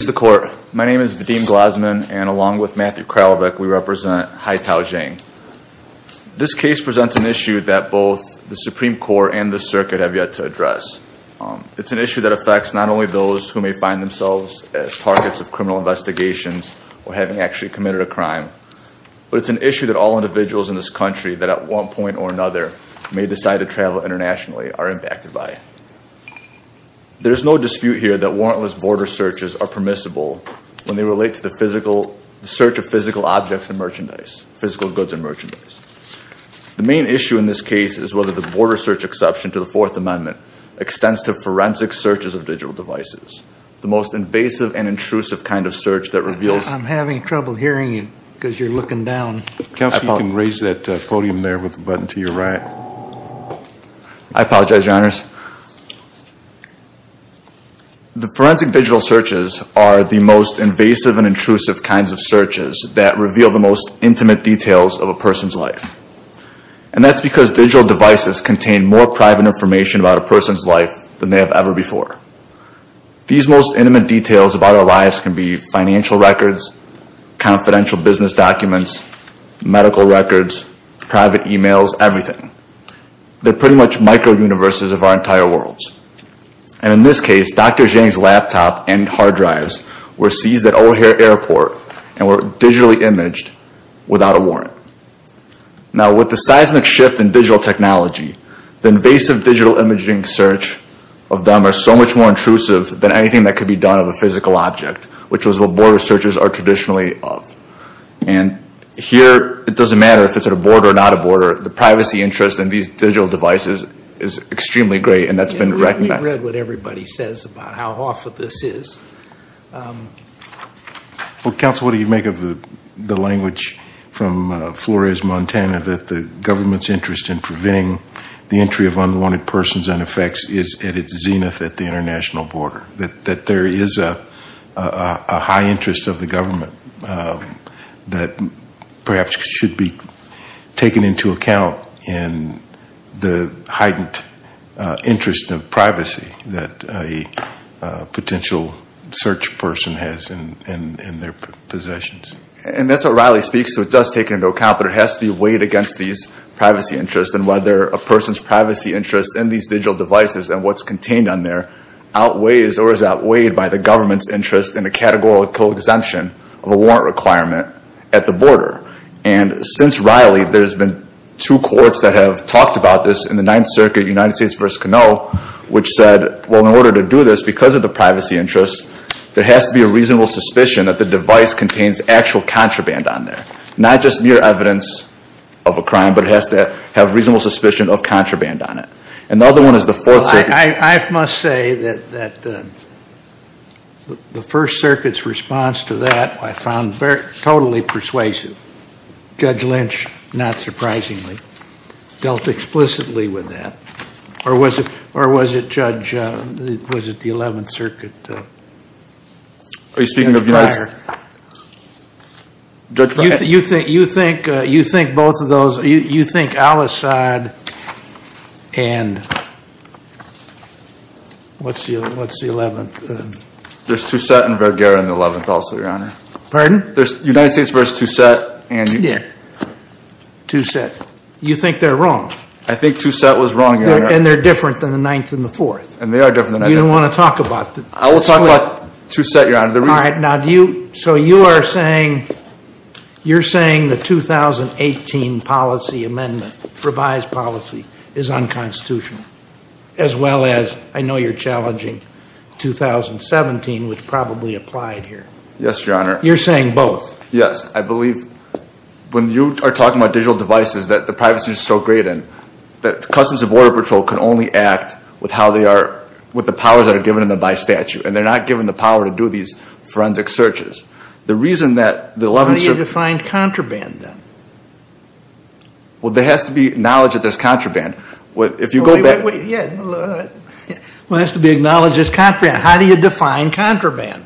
Mr. Court, my name is Vadim Glasman and along with Matthew Kralvik we represent Haitao Xiang. This case presents an issue that both the Supreme Court and the circuit have yet to address. It's an issue that affects not only those who may find themselves as targets of criminal investigations or having actually committed a crime, but it's an issue that all individuals in this country that at one point or another may decide to travel internationally are impacted by. There is no dispute here that warrantless border searches are permissible when they relate to the search of physical objects and merchandise, physical goods and merchandise. The main issue in this case is whether the border search exception to the Fourth Amendment extends to forensic searches of digital devices, the most invasive and intrusive kind of search that reveals- I'm having trouble hearing you because you're looking down. Counsel, you can raise that podium there with the button to your right. I apologize, your honors. The forensic digital searches are the most invasive and intrusive kinds of searches that reveal the most intimate details of a person's life. And that's because digital devices contain more private information about a person's life than they have ever before. These most intimate details about our lives can be financial records, confidential business documents, medical records, private emails, everything. They're pretty much micro-universes of our entire worlds. And in this case, Dr. Zhang's laptop and hard drives were seized at O'Hare Airport and were digitally imaged without a warrant. Now with the seismic shift in digital technology, the invasive digital imaging search of them are so much more intrusive than anything that could be done of a physical object, which is what border searches are traditionally of. And here, it doesn't matter if it's at a border or not a border. The privacy interest in these digital devices is extremely great and that's been recognized. We've read what everybody says about how awful this is. Counsel, what do you make of the language from Flores, Montana that the government's interest in preventing the entry of unwanted persons and effects is at its zenith at the international border? That there is a high interest of the government that perhaps should be taken into account in the heightened interest of privacy that a potential search person has in their possessions. And that's what Riley speaks to. It does take into account, but it has to be weighed against these privacy interests and whether a person's privacy interest in these digital devices and what's contained on there outweighs or is outweighed by the government's interest in a categorical exemption of a warrant requirement at the border. And since Riley, there's been two courts that have talked about this in the Ninth Circuit, United States v. Canoe, which said, well, in order to do this, because of the privacy interest, there has to be a reasonable suspicion that the device contains actual contraband on there. Not just mere evidence of a crime, but it has to have reasonable suspicion of contraband on it. And the other one is the Fourth Circuit. Well, I must say that the First Circuit's response to that I found totally persuasive. Judge Lynch, not surprisingly, dealt explicitly with that. Or was it Judge, was it the Eleventh Circuit? Are you speaking of United States? Judge, go ahead. You think both of those, you think Al-Assad and what's the Eleventh? There's Toucette and Vergara in the Eleventh also, Your Honor. Pardon? There's United States v. Toucette. Toucette. Toucette. You think they're wrong? I think Toucette was wrong, Your Honor. And they're different than the Ninth and the Fourth. And they are different than the Ninth. You don't want to talk about that. I will talk about Toucette, Your Honor. All right, so you are saying the 2018 policy amendment, revised policy, is unconstitutional, as well as I know you're challenging 2017, which probably applied here. Yes, Your Honor. You're saying both? Yes. I believe when you are talking about digital devices that the privacy is so great in, that Customs and Border Patrol can only act with the powers that are given to them by statute. And they're not given the power to do these forensic searches. The reason that the Eleventh Circuit... How do you define contraband, then? Well, there has to be knowledge that there's contraband. If you go back... Wait, wait, wait. Yeah. Well, it has to be acknowledged there's contraband. How do you define contraband?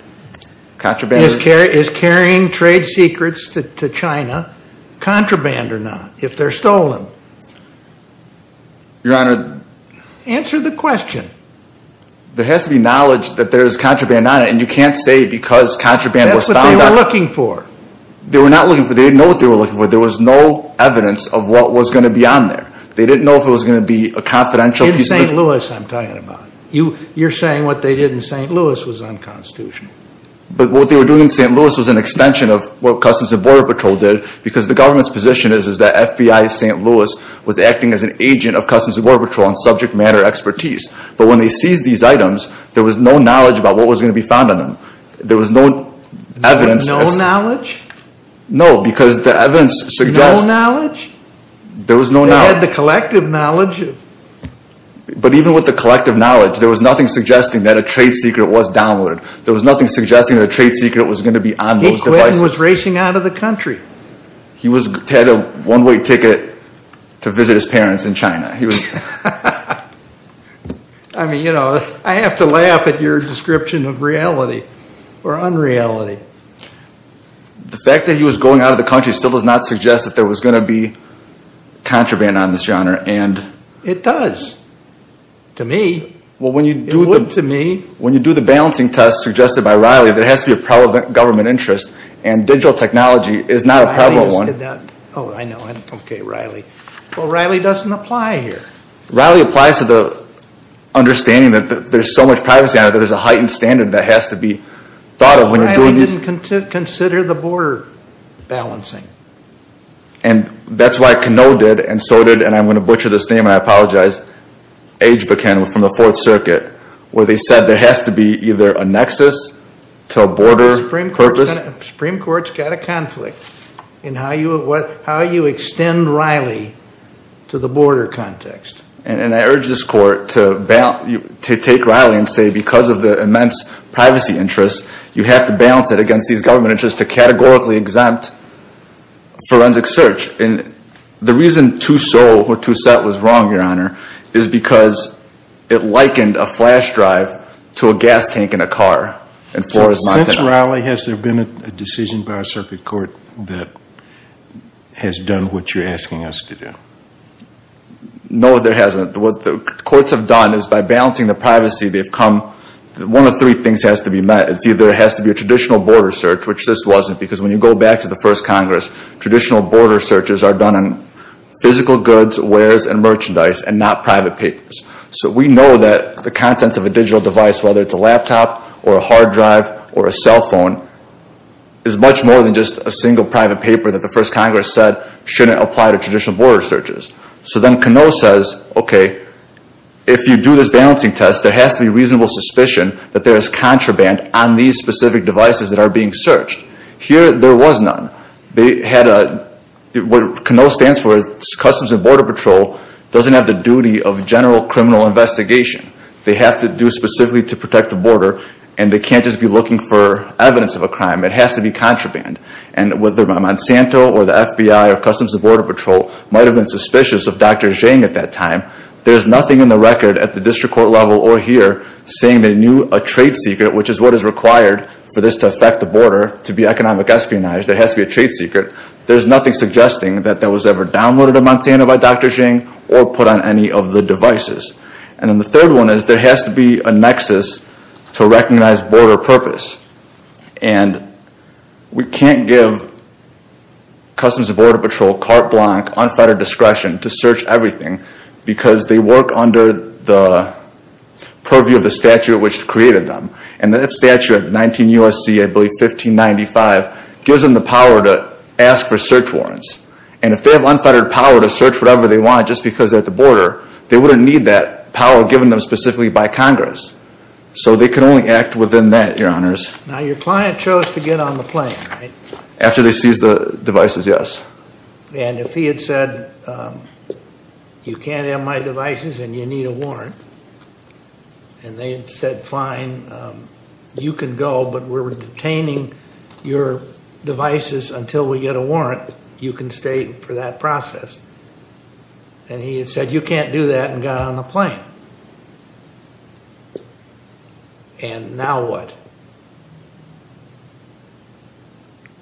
Contraband... Is carrying trade secrets to China contraband or not, if they're stolen? Your Honor... Answer the question. There has to be knowledge that there's contraband on it, and you can't say because contraband was found on it... That's what they were looking for. They were not looking for... They didn't know what they were looking for. There was no evidence of what was going to be on there. They didn't know if it was going to be a confidential piece of... In St. Louis, I'm talking about. You're saying what they did in St. Louis was unconstitutional. But what they were doing in St. Louis was an extension of what Customs and Border Patrol did because the government's position is that FBI St. Louis was acting as an agent of Customs and Border Patrol on subject matter expertise. But when they seized these items, there was no knowledge about what was going to be found on them. There was no evidence... No knowledge? No, because the evidence suggests... No knowledge? There was no knowledge. They had the collective knowledge of... But even with the collective knowledge, there was nothing suggesting that a trade secret was downward. There was nothing suggesting that a trade secret was going to be on those devices. Pete Quinton was racing out of the country. He had a one-way ticket to visit his parents in China. I mean, you know, I have to laugh at your description of reality or unreality. The fact that he was going out of the country still does not suggest that there was going to be contraband on this, Your Honor, and... It does. To me. Well, when you do the... It would to me. When you do the balancing test suggested by Riley, there has to be a prevalent government Oh, I know. Okay, Riley. Well, Riley doesn't apply here. Riley applies to the understanding that there's so much privacy on it that there's a heightened standard that has to be thought of when you're doing these... Riley didn't consider the border balancing. And that's why Canoe did, and so did, and I'm going to butcher this name, and I apologize, Ageviken from the Fourth Circuit, where they said there has to be either a nexus to a border purpose... The Supreme Court's got a conflict in how you extend Riley to the border context. And I urge this Court to take Riley and say because of the immense privacy interest, you have to balance it against these government interests to categorically exempt forensic search. And the reason Tussaud or Tussaud was wrong, Your Honor, is because it likened a flash drive to a gas tank in a car. Since Riley, has there been a decision by a circuit court that has done what you're asking us to do? No, there hasn't. What the courts have done is by balancing the privacy, they've come... One of three things has to be met. There has to be a traditional border search, which this wasn't, because when you go back to the first Congress, traditional border searches are done on physical goods, wares, and merchandise, and not private papers. So we know that the contents of a digital device, whether it's a laptop, or a hard drive, or a cell phone, is much more than just a single private paper that the first Congress said shouldn't apply to traditional border searches. So then Canoe says, okay, if you do this balancing test, there has to be reasonable suspicion that there is contraband on these specific devices that are being searched. Here there was none. They had a... What Canoe stands for is Customs and Border Patrol doesn't have the duty of general criminal investigation. They have to do specifically to protect the border, and they can't just be looking for evidence of a crime. It has to be contraband. And whether Monsanto, or the FBI, or Customs and Border Patrol might have been suspicious of Dr. Zhang at that time, there's nothing in the record at the district court level or here saying they knew a trade secret, which is what is required for this to affect the border, to be economic espionage, there has to be a trade secret. There's nothing suggesting that that was ever downloaded at Monsanto by Dr. Zhang, or put on any of the devices. And then the third one is there has to be a nexus to recognize border purpose. And we can't give Customs and Border Patrol carte blanche, unfettered discretion to search everything because they work under the purview of the statute which created them. And that statute of 19 U.S.C., I believe 1595, gives them the power to ask for search warrants. And if they have unfettered power to search whatever they want just because they're at the border, they wouldn't need that power given them specifically by Congress. So they can only act within that, your honors. Now, your client chose to get on the plane, right? After they seized the devices, yes. And if he had said, you can't have my devices and you need a warrant, and they had said fine, you can go, but we're detaining your devices until we get a warrant, you can stay for that process. And he had said, you can't do that and got on the plane. And now what?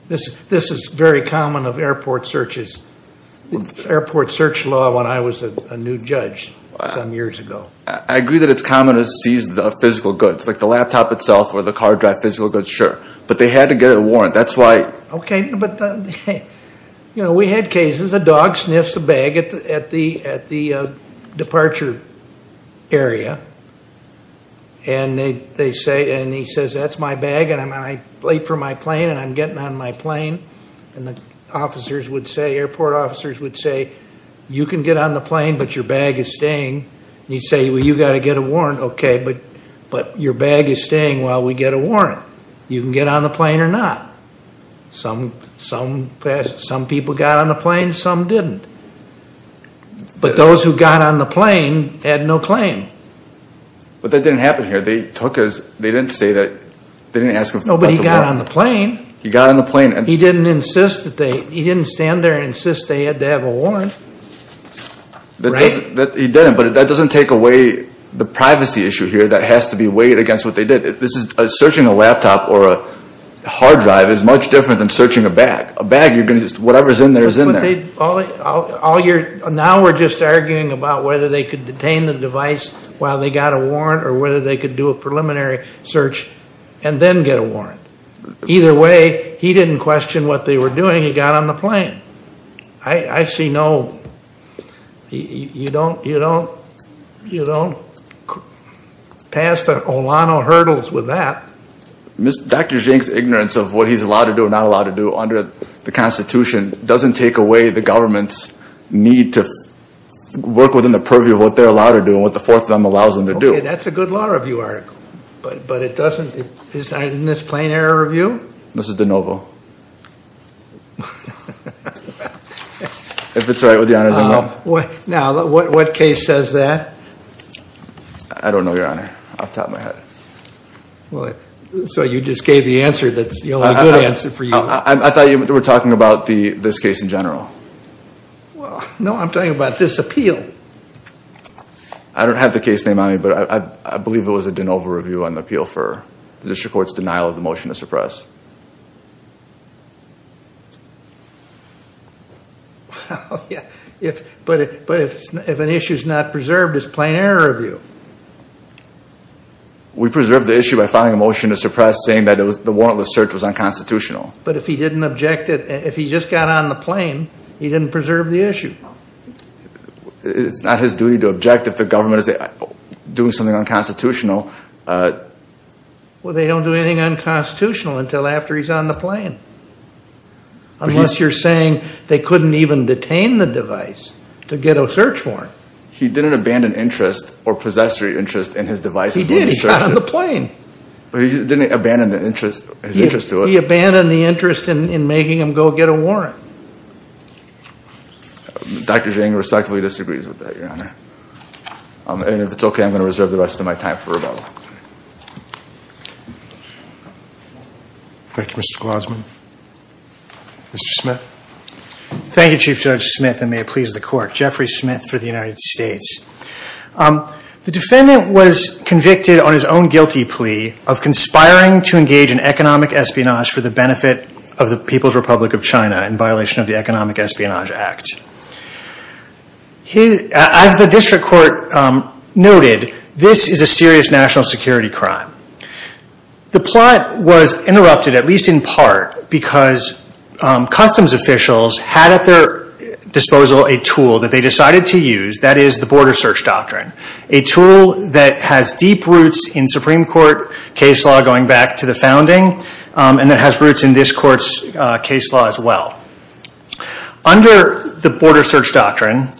This is very common of airport searches, airport search law when I was a new judge some years ago. I agree that it's common to seize the physical goods, like the laptop itself or the card drive physical goods, sure. But they had to get a warrant. That's why... Okay, but we had cases, a dog sniffs a bag at the departure area and he says, that's my bag and I'm late for my plane and I'm getting on my plane. And the officers would say, airport officers would say, you can get on the plane but your bag is staying while we get a warrant. You can get on the plane or not. Some people got on the plane, some didn't. But those who got on the plane had no claim. But that didn't happen here. They took us, they didn't say that, they didn't ask for a warrant. No, but he got on the plane. He got on the plane. He didn't insist that they, he didn't stand there and insist that they had to have a warrant. Right. He didn't, but that doesn't take away the privacy issue here that has to be weighed against what they did. This is, searching a laptop or a hard drive is much different than searching a bag. A bag, you're going to just, whatever's in there is in there. All you're, now we're just arguing about whether they could detain the device while they got a warrant or whether they could do a preliminary search and then get a warrant. Either way, he didn't question what they were doing, he got on the plane. I see no, you don't, you don't, you don't pass the Olano hurdles with that. Dr. Zhang's ignorance of what he's allowed to do or not allowed to do under the Constitution doesn't take away the government's need to work within the purview of what they're allowed to do and what the Fourth Amendment allows them to do. That's a good law review article, but it doesn't, isn't this plain error review? This is de novo. If it's right with your honors, I'm wrong. Now, what case says that? I don't know, your honor, off the top of my head. So you just gave the answer that's the only good answer for you. I thought you were talking about the, this case in general. Well, no, I'm talking about this appeal. I don't have the case name on me, but I believe it was a de novo review on the appeal for the Fourth Amendment. Well, yeah, but if an issue's not preserved, it's plain error review. We preserved the issue by filing a motion to suppress saying that the warrantless search was unconstitutional. But if he didn't object, if he just got on the plane, he didn't preserve the issue. It's not his duty to object if the government is doing something unconstitutional. Well, they don't do anything unconstitutional until after he's on the plane, unless you're saying they couldn't even detain the device to get a search warrant. He didn't abandon interest or possessory interest in his device. He did. He got on the plane. But he didn't abandon the interest, his interest to it. He abandoned the interest in making him go get a warrant. Dr. Zhang respectfully disagrees with that, your honor. And if it's okay, I'm going to reserve the rest of my time for rebuttal. Thank you, Mr. Glasman. Mr. Smith. Thank you, Chief Judge Smith, and may it please the court. Jeffrey Smith for the United States. The defendant was convicted on his own guilty plea of conspiring to engage in economic espionage for the benefit of the People's Republic of China in violation of the Economic Espionage Act. As the district court noted, this is a serious national security crime. The plot was interrupted, at least in part, because customs officials had at their disposal a tool that they decided to use. That is the border search doctrine, a tool that has deep roots in Supreme Court case law going back to the founding, and that has roots in this court's case law as well. Under the border search doctrine,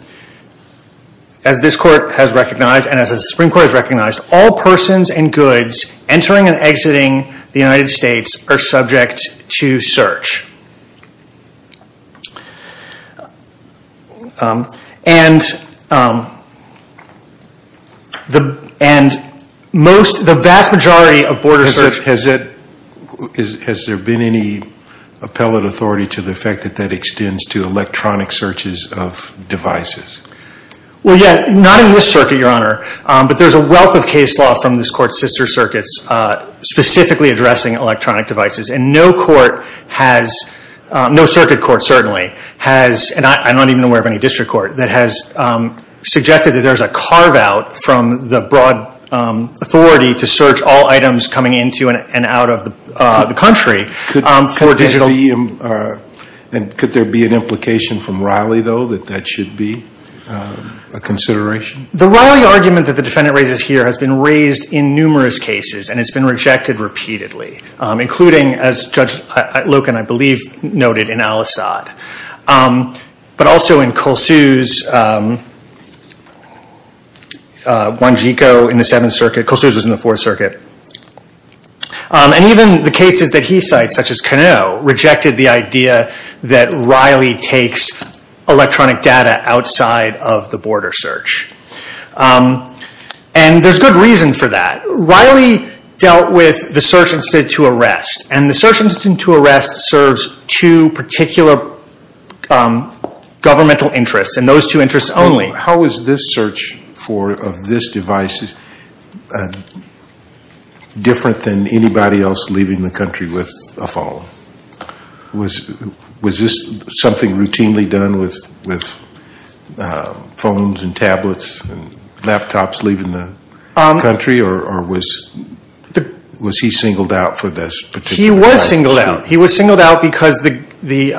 as this court has recognized, and as the Supreme Court has recognized, all persons and goods entering and exiting the United States are subject to search. And the vast majority of border search... Has there been any appellate authority to the effect that that extends to electronic searches of devices? Well, yeah, not in this circuit, Your Honor, but there's a wealth of case law from this court's sister circuits specifically addressing electronic devices. And no court has, no circuit court certainly, has, and I'm not even aware of any district court, that has suggested that there's a carve out from the broad authority to search all the way in and out of the country for digital... Could there be an implication from Riley, though, that that should be a consideration? The Riley argument that the defendant raises here has been raised in numerous cases, and it's been rejected repeatedly, including, as Judge Loken, I believe, noted in Al-Assad, but also in Colsus, Wanjiko in the Seventh Circuit, Colsus was in the Fourth Circuit, and even the cases that he cites, such as Cano, rejected the idea that Riley takes electronic data outside of the border search. And there's good reason for that. Riley dealt with the search instead to arrest, and the search instead to arrest serves two particular governmental interests, and those two interests only. How is this search for, of this device, different than anybody else leaving the country with a phone? Was this something routinely done with phones and tablets and laptops leaving the country, or was he singled out for this particular... He was singled out. He was singled out because the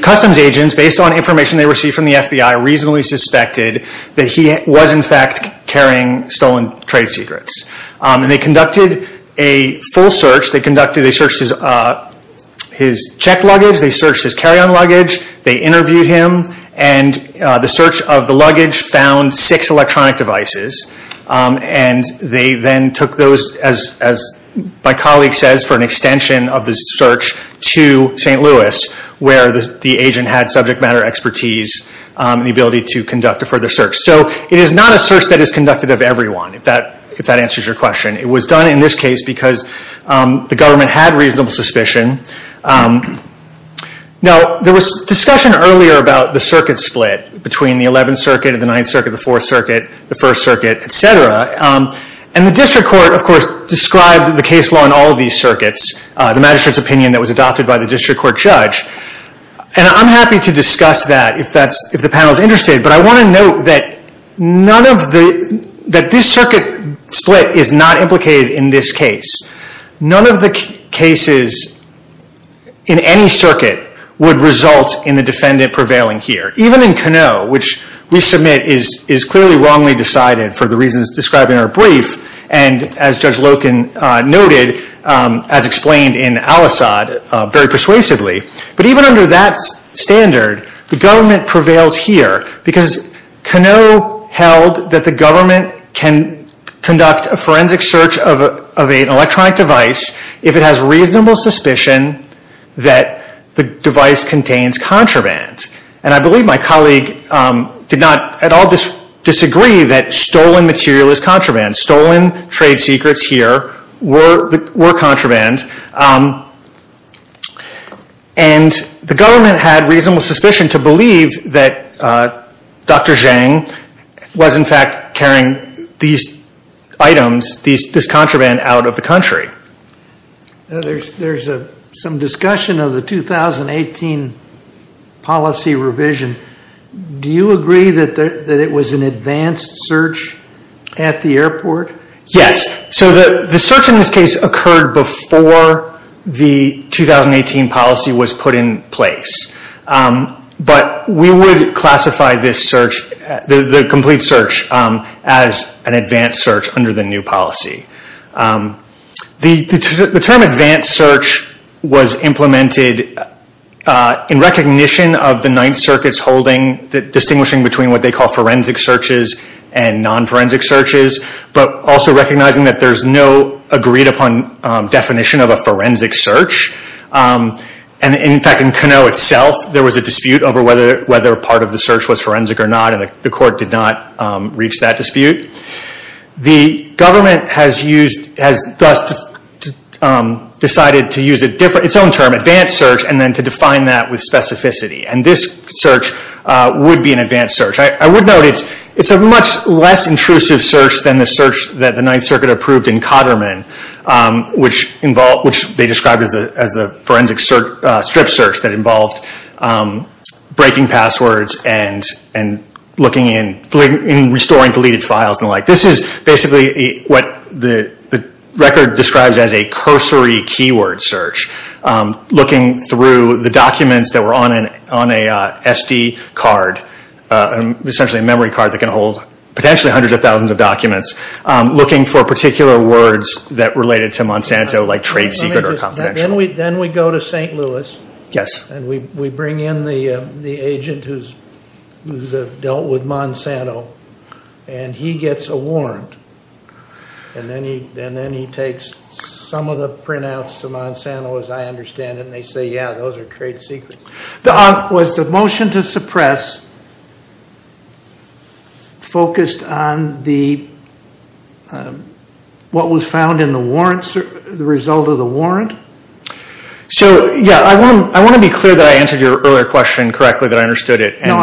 customs agents, based on information they received from the FBI, reasonably suspected that he was, in fact, carrying stolen trade secrets. And they conducted a full search, they searched his checked luggage, they searched his carry-on luggage, they interviewed him, and the search of the luggage found six electronic devices, and they then took those, as my colleague says, for an extension of the search to St. Louis, where the agent had subject matter expertise and the ability to conduct a further search. So it is not a search that is conducted of everyone, if that answers your question. It was done in this case because the government had reasonable suspicion. Now, there was discussion earlier about the circuit split between the Eleventh Circuit and the Ninth Circuit, the Fourth Circuit, the First Circuit, et cetera, and the district court, of course, described the case law in all of these circuits, the magistrate's opinion that was adopted by the district court judge, and I'm happy to discuss that if the panel is interested, but I want to note that this circuit split is not implicated in this case. None of the cases in any circuit would result in the defendant prevailing here. Even in Canoe, which we submit is clearly wrongly decided for the reasons described in our brief, and as Judge Loken noted, as explained in Al-Assad, very persuasively, but even under that standard, the government prevails here because Canoe held that the government can conduct a forensic search of an electronic device if it has reasonable suspicion that the device contains contraband. And I believe my colleague did not at all disagree that stolen material is contraband. Stolen trade secrets here were contraband, and the government had reasonable suspicion to believe that Dr. Zhang was, in fact, carrying these items, this contraband, out of the country. There's some discussion of the 2018 policy revision. Do you agree that it was an advanced search at the airport? Yes. So the search in this case occurred before the 2018 policy was put in place, but we would classify this search, the complete search, as an advanced search under the new policy. The term advanced search was implemented in recognition of the Ninth Circuit's holding the distinguishing between what they call forensic searches and non-forensic searches, but also recognizing that there's no agreed upon definition of a forensic search. In fact, in Canoe itself, there was a dispute over whether a part of the search was forensic or not, and the court did not reach that dispute. The government has decided to use its own term, advanced search, and then to define that with specificity, and this search would be an advanced search. I would note it's a much less intrusive search than the search that the Ninth Circuit approved in Cotterman, which they described as the forensic strip search that involved breaking passwords and restoring deleted files and the like. This is basically what the record describes as a cursory keyword search, looking through the documents that were on an SD card, essentially a memory card that can hold potentially hundreds of thousands of documents, looking for particular words that related to Monsanto, like trade secret or confidential. Then we go to St. Louis, and we bring in the agent who's dealt with Monsanto, and he gets a warrant, and then he takes some of the printouts to Monsanto, as I understand it, and they say, yeah, those are trade secrets. Was the motion to suppress focused on what was found in the warrant, the result of the warrant? So, yeah, I want to be clear that I answered your earlier question correctly, that I understood it. No,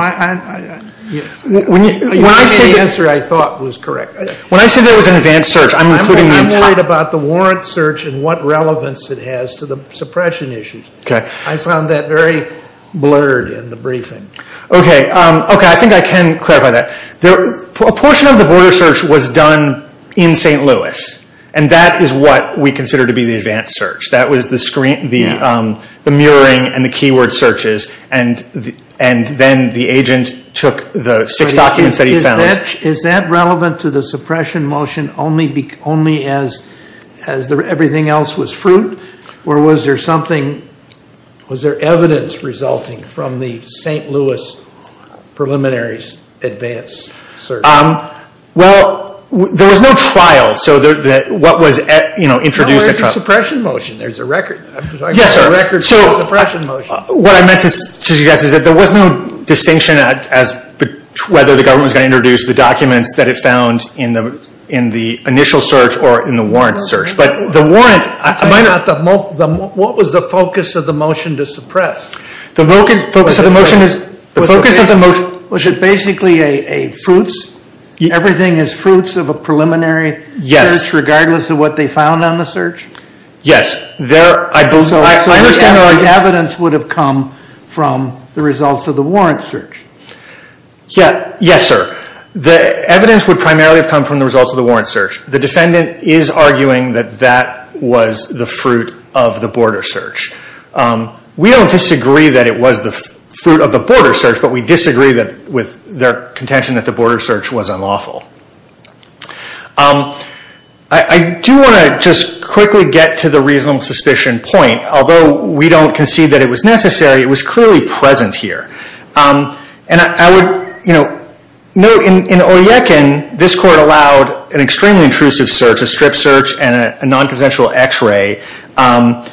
you gave me the answer I thought was correct. When I say there was an advanced search, I'm including the entire— I'm worried about the warrant search and what relevance it has to the suppression issues. Okay. I found that very blurred in the briefing. Okay. Okay, I think I can clarify that. A portion of the warrant search was done in St. Louis, and that is what we consider to be the advanced search. That was the mirroring and the keyword searches, and then the agent took the six documents that he found— Is that relevant to the suppression motion only as everything else was fruit, or was there something—was there evidence resulting from the St. Louis preliminaries advanced search? Well, there was no trial, so what was introduced— No, where's the suppression motion? There's a record. Yes, sir. I'm talking about the records of the suppression motion. So, what I meant to suggest is that there was no distinction as to whether the government was going to introduce the documents that it found in the initial search or in the warrant search, but the warrant— What was the focus of the motion to suppress? The focus of the motion was basically a fruits—everything is fruits of a preliminary search regardless of what they found on the search? Yes. So, the evidence would have come from the results of the warrant search? Yes, sir. The evidence would primarily have come from the results of the warrant search. The defendant is arguing that that was the fruit of the border search. We don't disagree that it was the fruit of the border search, but we disagree that with their contention that the border search was unlawful. I do want to just quickly get to the reasonable suspicion point. Although we don't concede that it was necessary, it was clearly present here. And I would, you know, note in Oyekin, this court allowed an extremely intrusive search, a strip search and a non-consensual x-ray. And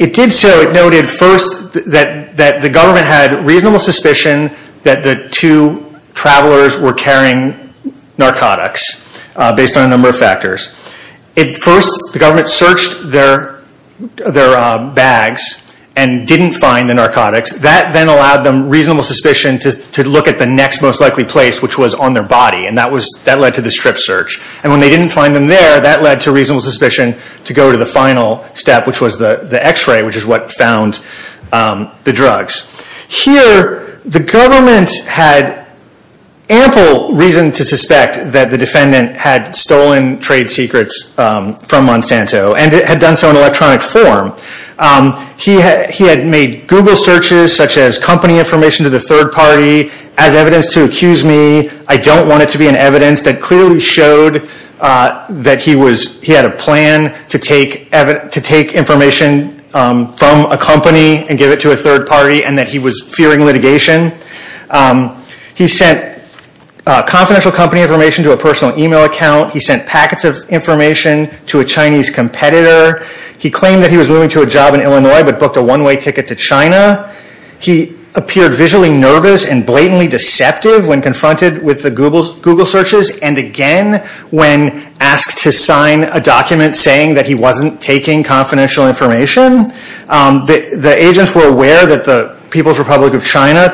it did so, it noted first that the government had reasonable suspicion that the two travelers were carrying narcotics based on a number of factors. First, the government searched their bags and didn't find the narcotics. That then allowed them reasonable suspicion to look at the next most likely place, which was on their body. And that led to the strip search. And when they didn't find them there, that led to reasonable suspicion to go to the final step, which was the x-ray, which is what found the drugs. Here, the government had ample reason to suspect that the defendant had stolen trade secrets from Monsanto and had done so in electronic form. He had made Google searches, such as company information to the third party, as evidence to accuse me. I don't want it to be an evidence that clearly showed that he had a plan to take information from a company and give it to a third party. And that he was fearing litigation. He sent confidential company information to a personal email account. He sent packets of information to a Chinese competitor. He claimed that he was moving to a job in Illinois, but booked a one-way ticket to China. He appeared visually nervous and blatantly deceptive when confronted with the Google searches. And again, when asked to sign a document saying that he wasn't taking confidential information. The agents were aware that the People's Republic of China,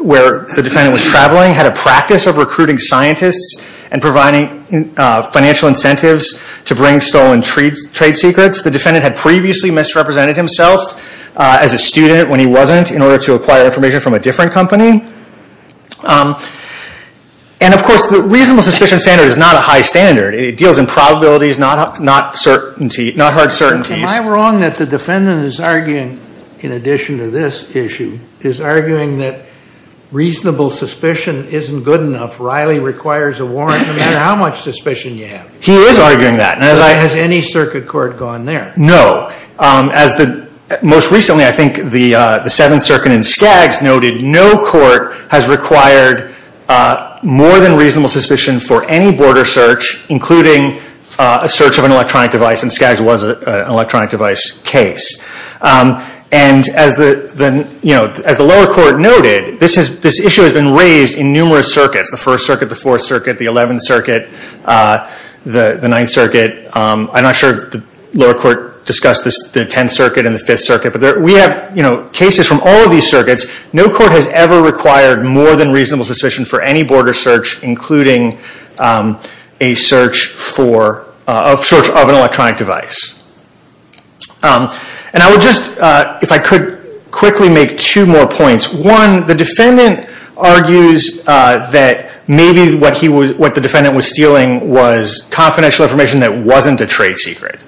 where the defendant was traveling, had a practice of recruiting scientists and providing financial incentives to bring stolen trade secrets. The defendant had previously misrepresented himself as a student when he wasn't, in order to acquire information from a different company. And of course, the reasonable suspicion standard is not a high standard. It deals in probabilities, not hard certainties. Am I wrong that the defendant is arguing, in addition to this issue, is arguing that reasonable suspicion isn't good enough. Riley requires a warrant no matter how much suspicion you have. He is arguing that. Has any circuit court gone there? No. Most recently, I think the Seventh Circuit in Skaggs noted, no court has required more than reasonable suspicion for any border search, including a search of an electronic device, and Skaggs was an electronic device case. And as the lower court noted, this issue has been raised in numerous circuits, the First Circuit, the Fourth Circuit, the Eleventh Circuit, the Ninth Circuit. I'm not sure the lower court discussed the Tenth Circuit and the Fifth Circuit, no court has ever required more than reasonable suspicion for any border search, including a search of an electronic device. And I would just, if I could quickly make two more points. One, the defendant argues that maybe what the defendant was stealing was confidential information that wasn't a trade secret.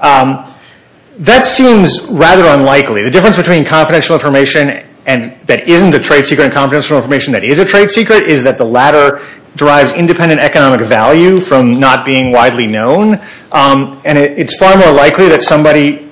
That seems rather unlikely. The difference between confidential information that isn't a trade secret and confidential information that is a trade secret is that the latter derives independent economic value from not being widely known. And it's far more likely that somebody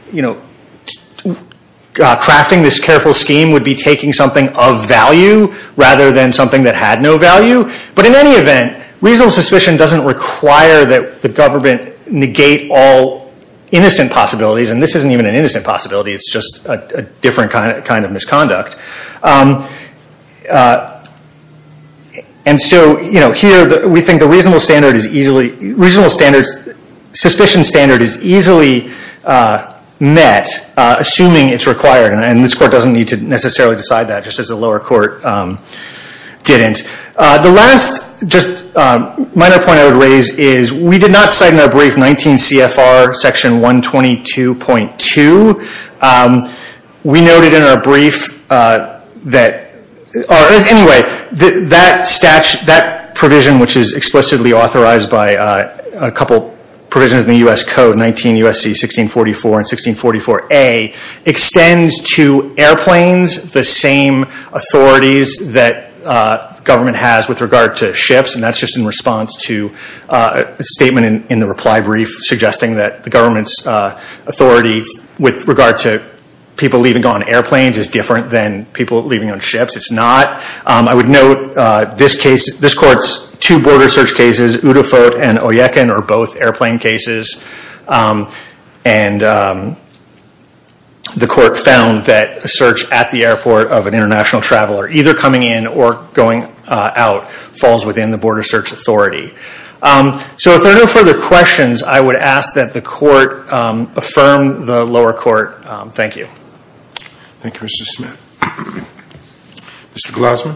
crafting this careful scheme would be taking something of value rather than something that had no value. But in any event, reasonable suspicion doesn't require that the government negate all innocent possibilities, and this isn't even an innocent possibility, it's just a different kind of misconduct. And so here we think the reasonable standard is easily, reasonable suspicion standard is easily met, assuming it's required. And this court doesn't need to necessarily decide that, just as the lower court didn't. The last just minor point I would raise is we did not cite in our brief 19 CFR section 122.2. We noted in our brief that, anyway, that provision, which is explicitly authorized by a couple provisions in the U.S. Code, 19 U.S.C. 1644 and 1644A, extends to airplanes the same authorities that government has with regard to ships, and that's just in response to a statement in the reply brief suggesting that the government's authority with regard to people leaving on airplanes is different than people leaving on ships. It's not. I would note this court's two border search cases, Udafot and Oyekin, are both airplane cases. And the court found that a search at the airport of an international traveler, either coming in or going out, falls within the border search authority. So if there are no further questions, I would ask that the court affirm the lower court. Thank you. Thank you, Mr. Smith. Mr. Glasner.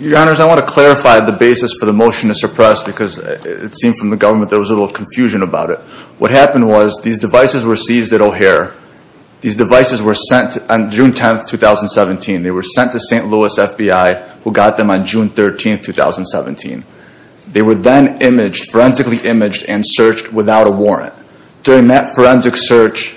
Your Honors, I want to clarify the basis for the motion to suppress because it seemed from the government there was a little confusion about it. What happened was these devices were seized at O'Hare. These devices were sent on June 10, 2017. They were sent to St. Louis FBI, who got them on June 13, 2017. They were then imaged, forensically imaged, and searched without a warrant. During that forensic search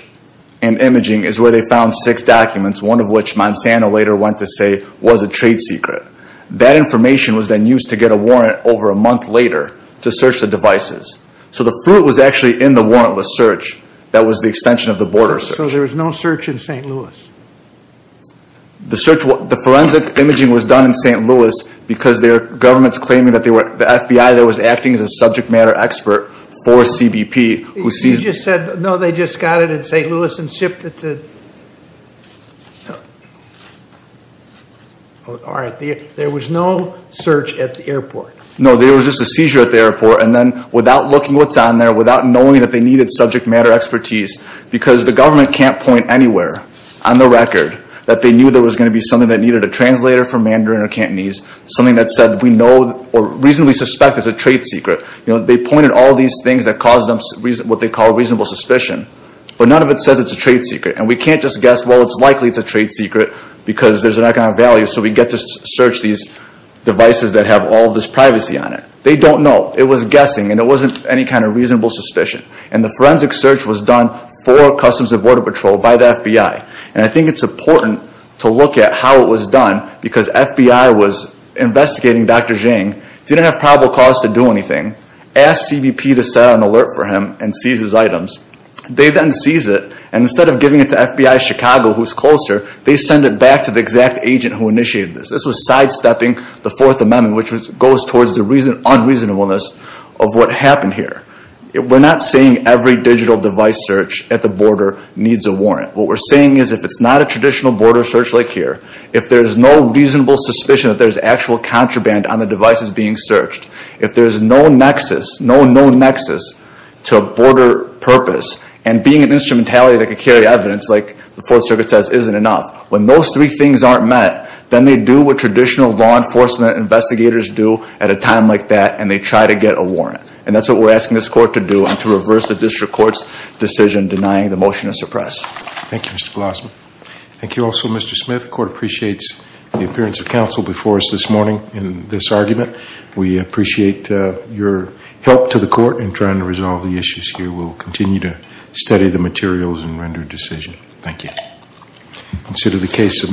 and imaging is where they found six documents, one of which Monsanto later went to say was a trade secret. That information was then used to get a warrant over a month later to search the devices. So the fruit was actually in the warrantless search that was the extension of the border search. So there was no search in St. Louis? The forensic imaging was done in St. Louis because there are governments claiming that the FBI that was acting as a subject matter expert for CBP who seized them. You just said, no, they just got it in St. Louis and shipped it to? All right. There was no search at the airport? No, there was just a seizure at the airport. And then without looking what's on there, without knowing that they needed subject matter expertise, because the government can't point anywhere on the record that they knew there was going to be something that needed a translator for Mandarin or Cantonese, something that said we know or reasonably suspect is a trade secret. They pointed all these things that caused them what they call reasonable suspicion. But none of it says it's a trade secret. And we can't just guess, well, it's likely it's a trade secret because there's an economic value, so we get to search these devices that have all this privacy on it. They don't know. It was guessing, and it wasn't any kind of reasonable suspicion. And I think it's important to look at how it was done because FBI was investigating Dr. Zhang, didn't have probable cause to do anything, asked CBP to set an alert for him and seize his items. They then seize it, and instead of giving it to FBI Chicago, who's closer, they send it back to the exact agent who initiated this. This was sidestepping the Fourth Amendment, which goes towards the unreasonableness of what happened here. We're not saying every digital device search at the border needs a warrant. What we're saying is if it's not a traditional border search like here, if there's no reasonable suspicion that there's actual contraband on the devices being searched, if there's no known nexus to a border purpose, and being an instrumentality that could carry evidence like the Fourth Circuit says isn't enough, when those three things aren't met, then they do what traditional law enforcement investigators do at a time like that, and they try to get a warrant. And that's what we're asking this court to do, and to reverse the district court's decision denying the motion to suppress. Thank you, Mr. Glossman. Thank you also, Mr. Smith. The court appreciates the appearance of counsel before us this morning in this argument. We appreciate your help to the court in trying to resolve the issues here. We'll continue to study the materials and render a decision. Thank you.